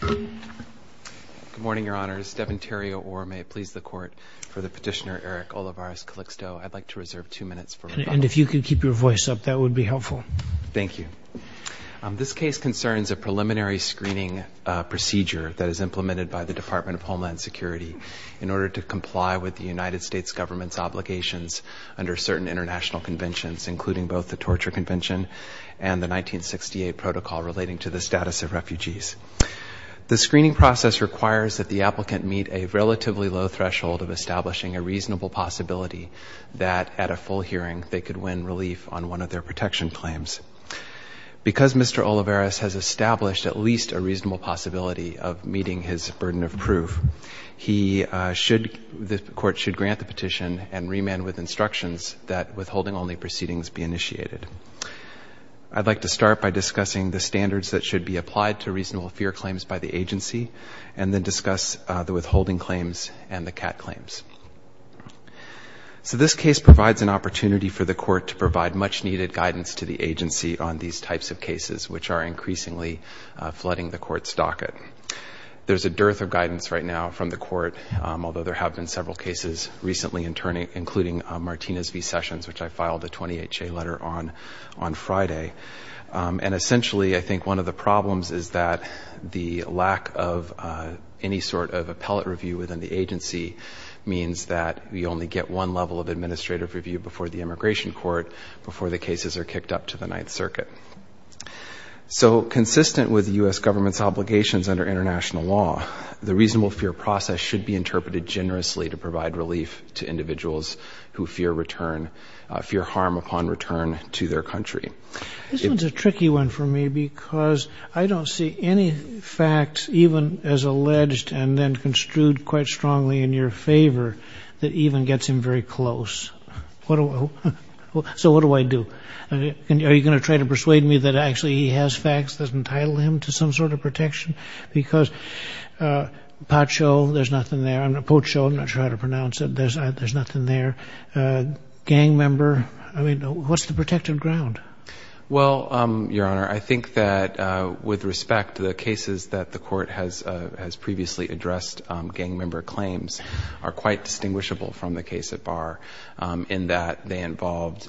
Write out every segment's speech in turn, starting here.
Good morning, Your Honors. Devin Terrio Orr, may it please the Court, for the petitioner Eric Olivares-Calixto. I'd like to reserve two minutes for rebuttal. And if you could keep your voice up, that would be helpful. Thank you. This case concerns a preliminary screening procedure that is implemented by the Department of Homeland Security in order to comply with the United States government's obligations under certain international conventions, including both the Torture Convention and the 1968 Protocol relating to the status of refugees. The screening process requires that the applicant meet a relatively low threshold of establishing a reasonable possibility that, at a full hearing, they could win relief on one of their protection claims. Because Mr. Olivares has established at least a reasonable possibility of meeting his burden of proof, the Court should grant the petition and remand with instructions that withholding-only proceedings be initiated. I'd like to start by discussing the standards that should be applied to reasonable fear claims by the agency and then discuss the withholding claims and the CAT claims. So this case provides an opportunity for the Court to provide much-needed guidance to the agency on these types of cases, which are increasingly flooding the Court's docket. There's a dearth of guidance right now from the Court, although there have been several cases recently, including Martinez v. Sessions, which I filed a 20HA letter on on Friday. And essentially, I think one of the problems is that the lack of any sort of appellate review within the agency means that we only get one level of administrative review before the Immigration Court, before the cases are kicked up to the Ninth Circuit. So, consistent with U.S. government's obligations under international law, the reasonable fear process should be interpreted generously to provide relief to individuals who fear return, fear harm upon return to their country. This one's a tricky one for me because I don't see any facts, even as alleged and then construed quite strongly in your favor, that even gets him very close. So what do I do? Are you going to try to persuade me that actually he has facts that entitle him to some sort of protection? Because Pacho, there's nothing there. Pacho, I'm not sure how to pronounce it. There's nothing there. Gang member, I mean, what's the protective ground? Well, Your Honor, I think that with respect, the cases that the court has previously addressed gang member claims are quite distinguishable from the case at Barr in that they involved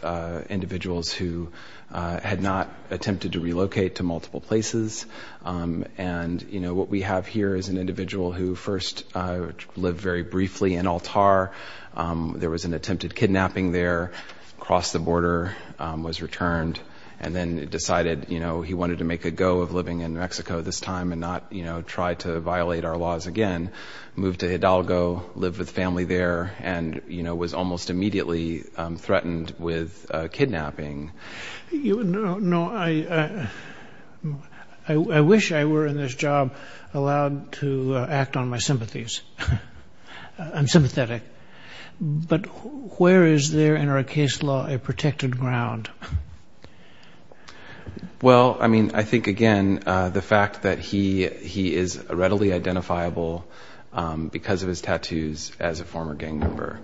individuals who had not attempted to relocate to multiple places. And, you know, what we have here is an individual who first lived very briefly in Altar. There was an attempted kidnapping there, crossed the border, was returned, and then decided he wanted to make a go of living in Mexico this time and not try to violate our laws again, moved to Hidalgo, lived with family there, and was almost immediately threatened with kidnapping. No. I wish I were in this job allowed to act on my sympathies. I'm sympathetic. But where is there in our case law a protected ground? Well, I mean, I think, again, the fact that he is readily identifiable because of his tattoos as a former gang member.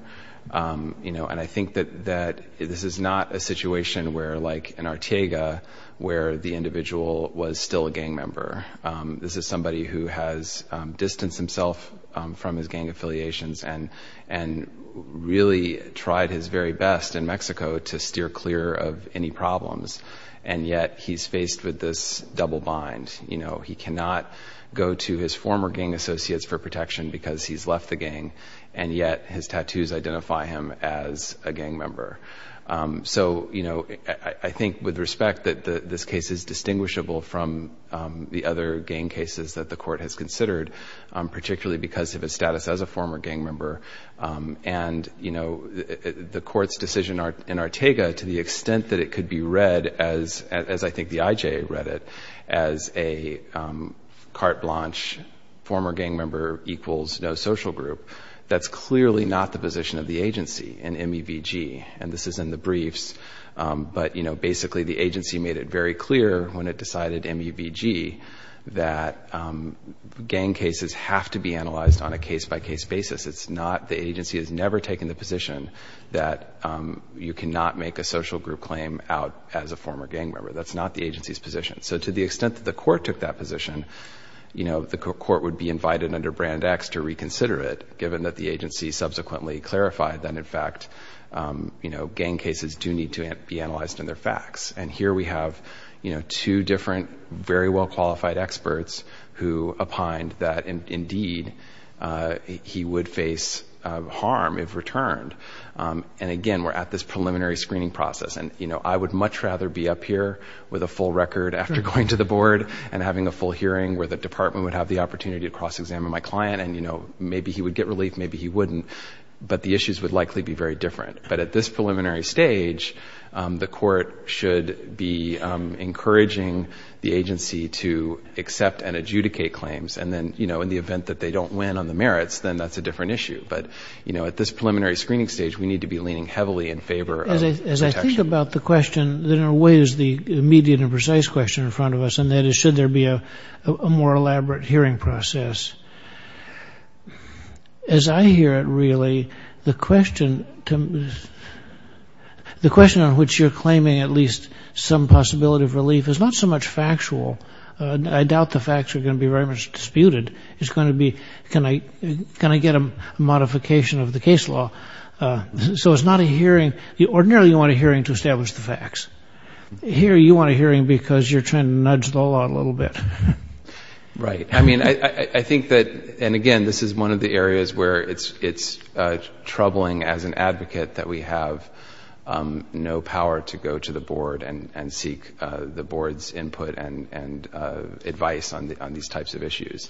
And I think that this is not a situation where, like in Artiega, where the individual was still a gang member. This is somebody who has distanced himself from his gang affiliations and really tried his very best in Mexico to steer clear of any problems, and yet he's faced with this double bind. He cannot go to his former gang associates for protection because he's left the gang, and yet his tattoos identify him as a gang member. So, you know, I think, with respect, that this case is distinguishable from the other gang cases that the court has considered, particularly because of his status as a former gang member. And, you know, the court's decision in Artiega, to the extent that it could be read, as I think the IJ read it, as a carte blanche, former gang member equals no social group, that's clearly not the position of the agency in MEVG. And this is in the briefs, but, you know, basically the agency made it very clear when it decided MEVG that gang cases have to be analyzed on a case-by-case basis. It's not, the agency has never taken the position that you cannot make a social group claim out as a former gang member. That's not the agency's position. So to the extent that the court took that position, you know, the court would be invited under Brand X to reconsider it, given that the agency subsequently clarified that, in fact, you know, gang cases do need to be analyzed in their facts. And here we have, you know, two different very well-qualified experts who opined that, indeed, he would face harm if returned. And, again, we're at this preliminary screening process. And, you know, I would much rather be up here with a full record after going to the board and having a full hearing where the department would have the opportunity to cross-examine my client and, you know, maybe he would get relief, maybe he wouldn't. But the issues would likely be very different. But at this preliminary stage, the court should be encouraging the agency to accept and adjudicate claims. And then, you know, in the event that they don't win on the merits, then that's a different issue. But, you know, at this preliminary screening stage, we need to be leaning heavily in favor of protection. As I think about the question, there are ways the immediate and precise question in front of us, and that is should there be a more elaborate hearing process. As I hear it, really, the question on which you're claiming at least some possibility of relief is not so much factual. I doubt the facts are going to be very much disputed. It's going to be, can I get a modification of the case law? So it's not a hearing. Ordinarily, you want a hearing to establish the facts. Here, you want a hearing because you're trying to nudge the law a little bit. Right. I mean, I think that, and again, this is one of the areas where it's troubling as an advocate that we have no power to go to the board and seek the board's input and advice on these types of issues.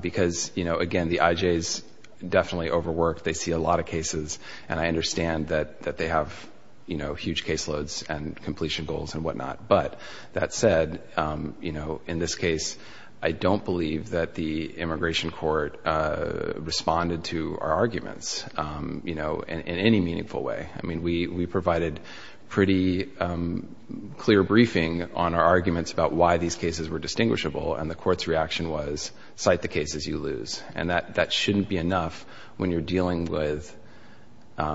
Because, you know, again, the IJs definitely overwork. They see a lot of cases, and I understand that they have, you know, huge caseloads and completion goals and whatnot. But that said, you know, in this case, I don't believe that the immigration court responded to our arguments, you know, in any meaningful way. I mean, we provided pretty clear briefing on our arguments about why these cases were distinguishable, and the court's reaction was, cite the cases you lose. And that shouldn't be enough when you're dealing with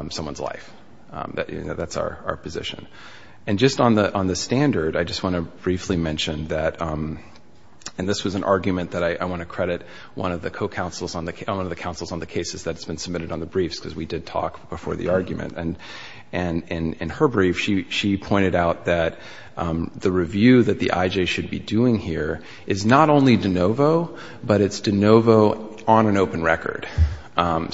someone's life. That's our position. And just on the standard, I just want to briefly mention that, and this was an argument that I want to credit one of the co-counsels, one of the counsels on the cases that's been submitted on the briefs, because we did talk before the argument. And in her brief, she pointed out that the review that the IJ should be doing here is not only de novo, but it's de novo on an open record. And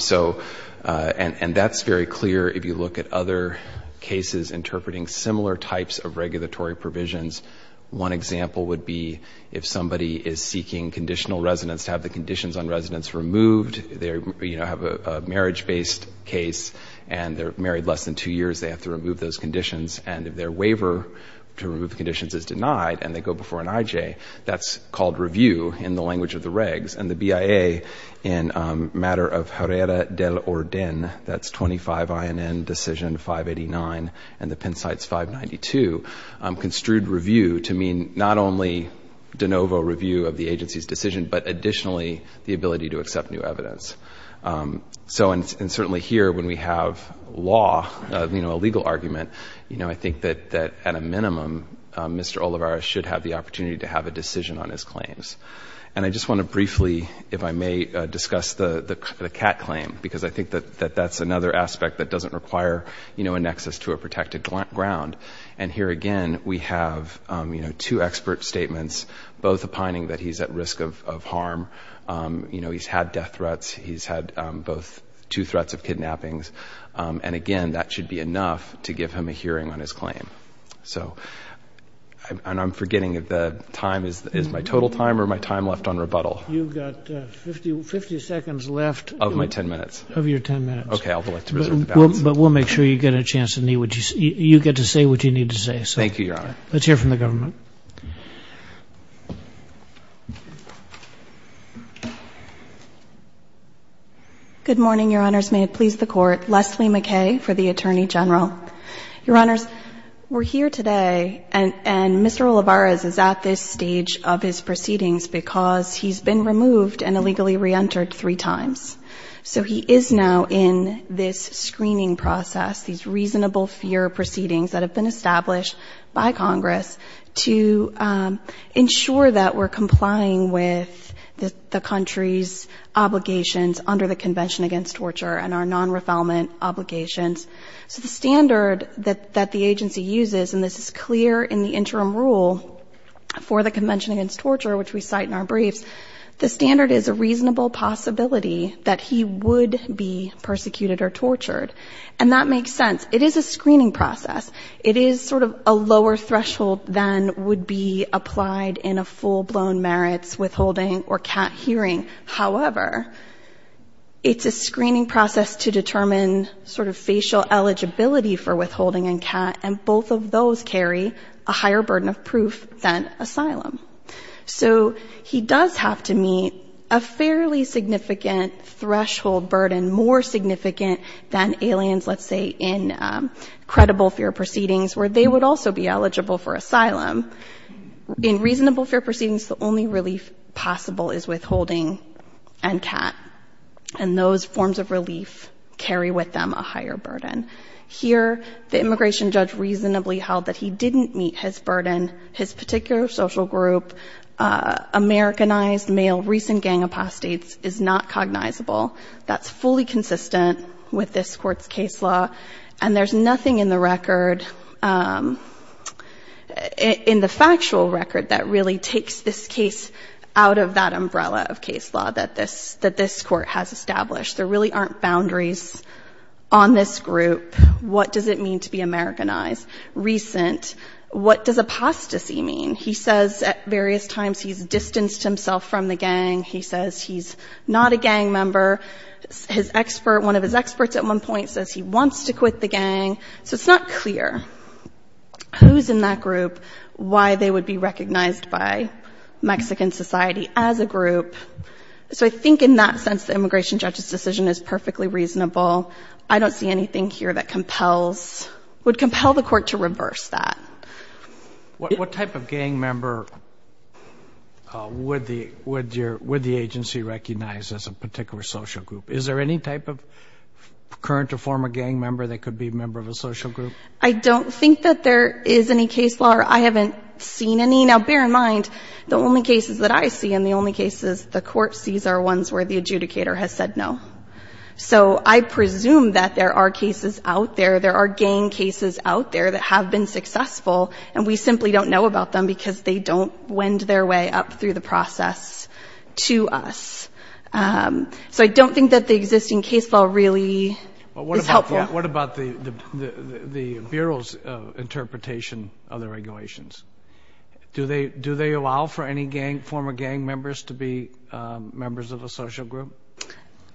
that's very clear if you look at other cases interpreting similar types of regulatory provisions. One example would be if somebody is seeking conditional residence to have the conditions on residence removed. They, you know, have a marriage-based case, and they're married less than two years, they have to remove those conditions. And if their waiver to remove the conditions is denied, and they go before an IJ, that's called review in the language of the regs. And the BIA, in matter of Herrera del Orden, that's 25 INN Decision 589 and the Penn Cites 592, construed review to mean not only de novo review of the agency's decision, but additionally the ability to accept new evidence. So, and certainly here, when we have law, you know, a legal argument, you know, I think that at a minimum, Mr. Olivares should have the opportunity to have a decision on his claims. And I just want to briefly, if I may, discuss the Catt claim, because I think that that's another aspect that doesn't require, you know, an access to a protected ground. And here again, we have, you know, two expert statements, both opining that he's at risk of harm. You know, he's had death threats. He's had both two threats of kidnappings. And again, that should be enough to give him a hearing on his claim. So, and I'm forgetting if the time is my total time or my time left on rebuttal. You've got 50 seconds left. Of my 10 minutes. Of your 10 minutes. Okay, I'd like to reserve the balance. But we'll make sure you get a chance to say what you need to say. Thank you, Your Honor. Let's hear from the government. Good morning, Your Honors. May it please the Court. Leslie McKay for the Attorney General. Your Honors, we're here today and Mr. Olivares is at this stage of his proceedings because he's been removed and illegally reentered three times. So he is now in this screening process, these reasonable fear proceedings that have been established by Congress to ensure that we're complying with the country's obligations under the Convention Against Torture and our non-refoulement obligations. So the standard that the agency uses, and this is clear in the interim rule for the Convention Against Torture, which we cite in our briefs, the standard is a reasonable possibility that he would be persecuted or tortured. And that makes sense. It is a screening process. It is sort of a lower threshold than would be applied in a full-blown merits withholding or CAT hearing. However, it's a screening process to determine sort of facial eligibility for withholding and CAT, and both of those carry a higher burden of proof than asylum. So he does have to meet a fairly significant threshold burden, more significant than aliens, let's say, in credible fear proceedings, where they would also be eligible for asylum. In reasonable fear proceedings, the only relief possible is withholding and CAT, and those forms of relief carry with them a higher burden. Here, the immigration judge reasonably held that he didn't meet his burden. His particular social group, Americanized male recent gang apostates, is not cognizable. That's fully consistent with this Court's case law, and there's nothing in the record, in the factual record, that really takes this case out of that umbrella of case law that this Court has established. There really aren't boundaries on this group. What does it mean to be Americanized? Recent. What does apostasy mean? He says at various times he's distanced himself from the gang. He says he's not a gang member. His expert, one of his experts at one point, says he wants to quit the gang. So it's not clear who's in that group, why they would be recognized by Mexican society as a group. So I think in that sense, the immigration judge's decision is perfectly reasonable. I don't see anything here that compels, would compel the Court to reverse that. What type of gang member would the agency recognize as a particular social group? Is there any type of current or former gang member that could be a member of a social group? I don't think that there is any case law, or I haven't seen any. Now, bear in mind, the only cases that I see and the only cases the Court sees are ones where the adjudicator has said no. So I presume that there are cases out there, there are gang cases out there that have been successful, and we simply don't know about them because they don't wind their way up through the process to us. So I don't think that the existing case law really is helpful. What about the Bureau's interpretation of the regulations? Do they allow for any former gang members to be members of a social group?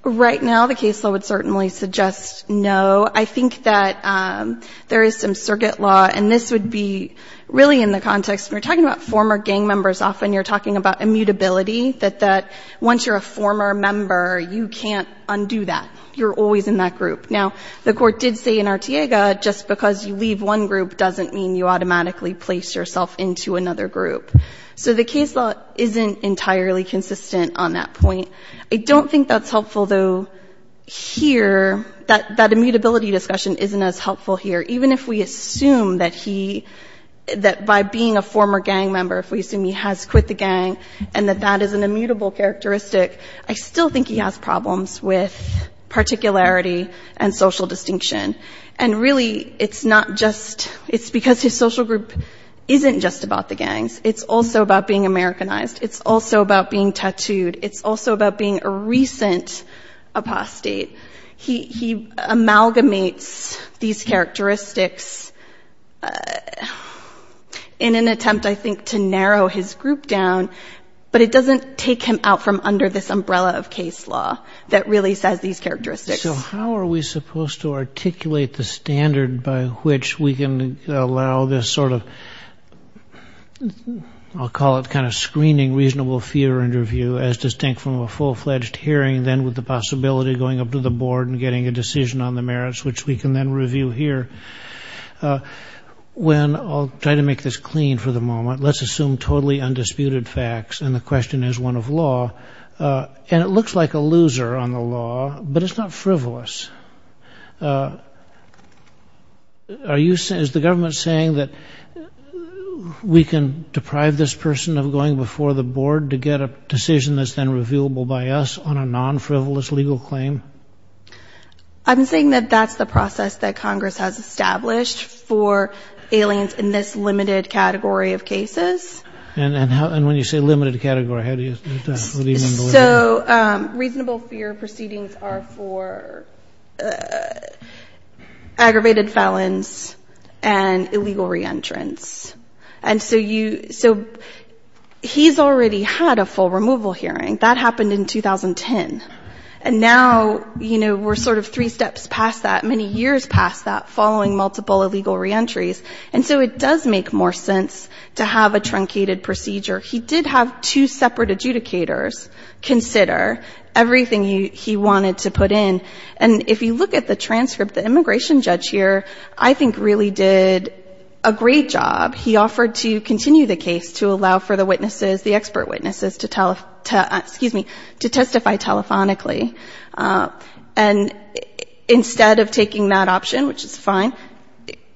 Right now, the case law would certainly suggest no. I think that there is some circuit law, and this would be really in the context, when you're talking about former gang members, often you're talking about immutability, that once you're a former member, you can't undo that. You're always in that group. Now, the Court did say in Artiega, just because you leave one group doesn't mean you automatically place yourself into another group. So the case law isn't entirely consistent on that point. I don't think that's helpful, though, here. That immutability discussion isn't as helpful here. Even if we assume that he, that by being a former gang member, if we assume he has quit the gang and that that is an immutable characteristic, I still think he has problems with particularity and social distinction. And really, it's not just, it's because his social group isn't just about the gangs. It's also about being Americanized. It's also about being tattooed. It's also about being a recent apostate. He amalgamates these characteristics in an attempt, I think, to narrow his group down, but it doesn't take him out from under this umbrella of case law that really says these characteristics. So how are we supposed to articulate the standard by which we can allow this sort of, I'll call it kind of screening reasonable fear interview, as distinct from a full-fledged hearing, then with the possibility of going up to the board and getting a decision on the merits, which we can then review here? When, I'll try to make this clean for the moment, let's assume totally undisputed facts and the question is one of law, and it looks like a loser on the law, but it's not frivolous. Are you, is the government saying that we can deprive this person of going before the board to get a decision that's then reviewable by us on a non-frivolous legal claim? I'm saying that that's the process that Congress has established for aliens in this limited category of cases. And when you say limited category, how do you, what do you mean by that? So reasonable fear proceedings are for aggravated felons and illegal re-entrants. And so you, so he's already had a full removal hearing. That happened in 2010. And now, you know, we're sort of three steps past that, many years past that, following multiple illegal re-entries. And so it does make more sense to have a truncated procedure. He did have two separate adjudicators consider everything he wanted to put in. And if you look at the transcript, the immigration judge here I think really did a great job. He offered to continue the case to allow for the witnesses, the expert witnesses to tell, excuse me, to testify telephonically. And instead of taking that option, which is fine,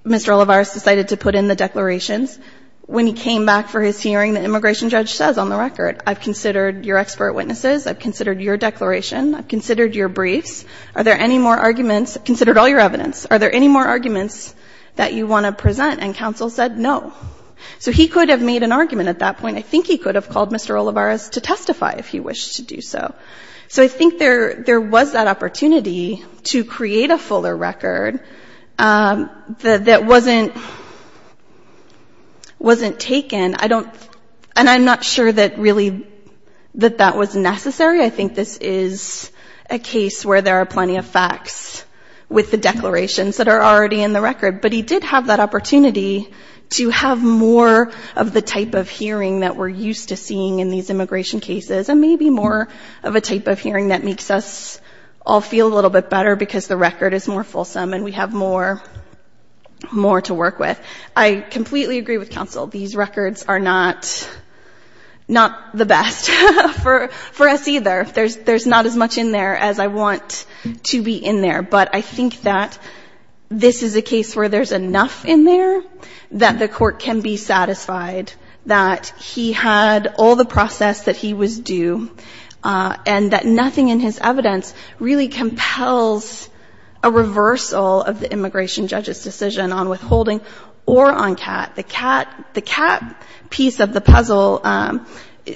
Mr. Olivares decided to put in the declarations. When he came back for his hearing, the immigration judge says on the record, I've considered your expert witnesses. I've considered your declaration. I've considered your briefs. Are there any more arguments? I've considered all your evidence. Are there any more arguments that you want to present? And counsel said no. So he could have made an argument at that point. I think he could have called Mr. Olivares to testify if he wished to do so. So I think there was that opportunity to create a fuller record that wasn't taken. And I'm not sure that really that that was necessary. I think this is a case where there are plenty of facts with the declarations that are already in the record. But he did have that opportunity to have more of the type of hearing that we're used to seeing in these immigration cases and maybe more of a type of hearing that makes us all feel a little bit better because the record is more fulsome and we have more to work with. I completely agree with counsel. These records are not the best for us either. There's not as much in there as I want to be in there. But I think that this is a case where there's enough in there that the court can be satisfied that he had all the process that he was due and that nothing in his evidence really compels a reversal of the immigration judge's decision on withholding or on CAT. The CAT piece of the puzzle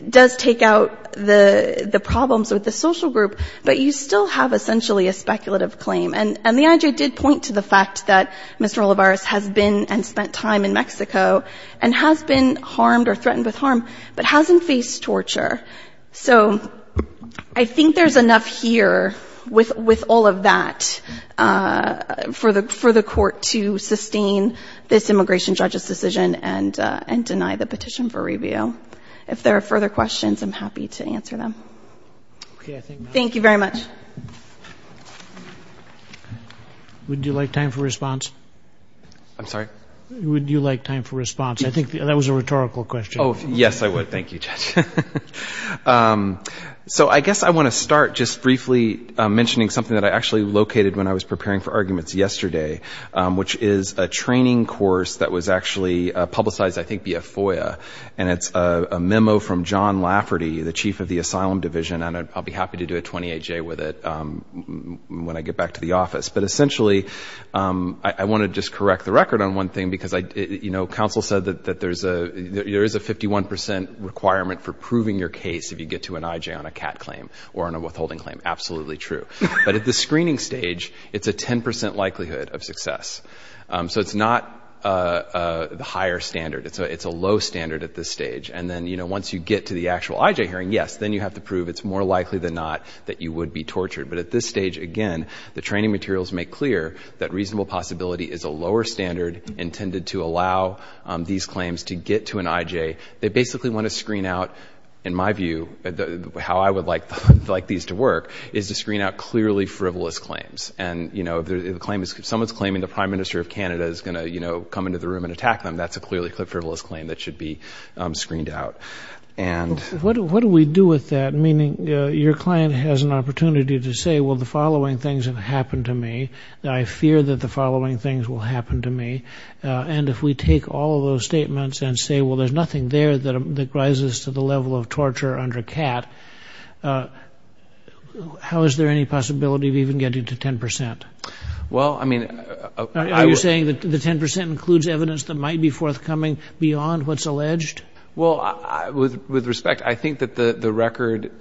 does take out the problems with the social group, but you still have essentially a speculative claim. And the IJA did point to the fact that Mr. Olivares has been and spent time in Mexico and has been harmed or threatened with harm, but hasn't faced torture. So I think there's enough here with all of that for the court to sustain this immigration judge's decision and deny the petition for review. If there are further questions, I'm happy to answer them. Thank you very much. Would you like time for response? I'm sorry? Would you like time for response? I think that was a rhetorical question. Yes, I would. Thank you, Judge. So I guess I want to start just briefly mentioning something that I actually located when I was preparing for arguments yesterday, which is a training course that was actually publicized, I think, via FOIA. And it's a memo from John Lafferty, the chief of the Asylum Division, and I'll be happy to do a 28-J with it when I get back to the office. But essentially, I want to just correct the record on one thing, because, you know, counsel said that there is a 51 percent requirement for proving your case if you get to an IJA on a CAT claim or on a withholding claim. Absolutely true. But at the screening stage, it's a 10 percent likelihood of success. So it's not a higher standard. It's a low standard at this stage. And then, you know, once you get to the actual IJA hearing, yes, then you have to prove it's more likely than not that you would be tortured. But at this stage, again, the training materials make clear that reasonable possibility is a lower standard intended to allow these claims to get to an IJA. They basically want to screen out, in my view, how I would like these to work, is to screen out clearly frivolous claims. And, you know, if someone's claiming the prime minister of Canada is going to, you know, come into the room and attack them, that's a clearly frivolous claim that should be screened out. What do we do with that? Meaning your client has an opportunity to say, well, the following things have happened to me. I fear that the following things will happen to me. And if we take all of those statements and say, well, there's nothing there that rises to the level of torture under CAT, how is there any possibility of even getting to 10 percent? Well, I mean... Are you saying that the 10 percent includes evidence that might be forthcoming beyond what's alleged? Well, with respect, I think that the record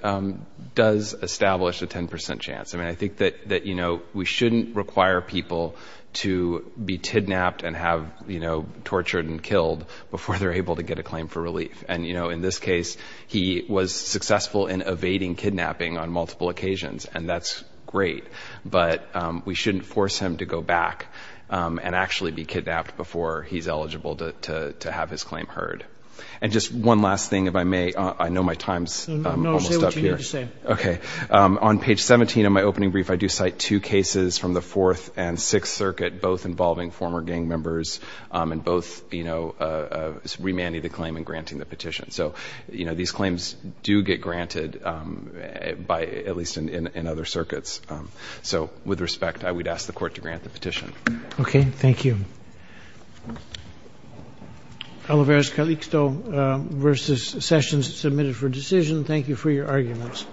does establish a 10 percent chance. I mean, I think that, you know, we shouldn't require people to be kidnapped and have, you know, tortured and killed before they're able to get a claim for relief. And, you know, in this case, he was successful in evading kidnapping on multiple occasions. And that's great. But we shouldn't force him to go back and actually be kidnapped before he's eligible to have his claim heard. And just one last thing, if I may. I know my time's almost up here. On page 17 of my opening brief, I do cite two cases from the Fourth and Sixth Circuit, both involving former gang members, and both, you know, remanding the claim and granting the petition. So, you know, these claims do get granted, at least in other circuits. So with respect, I would ask the Court to grant the petition. Okay. Thank you. Oliveros Calixto versus Sessions, submitted for decision. Thank you for your arguments.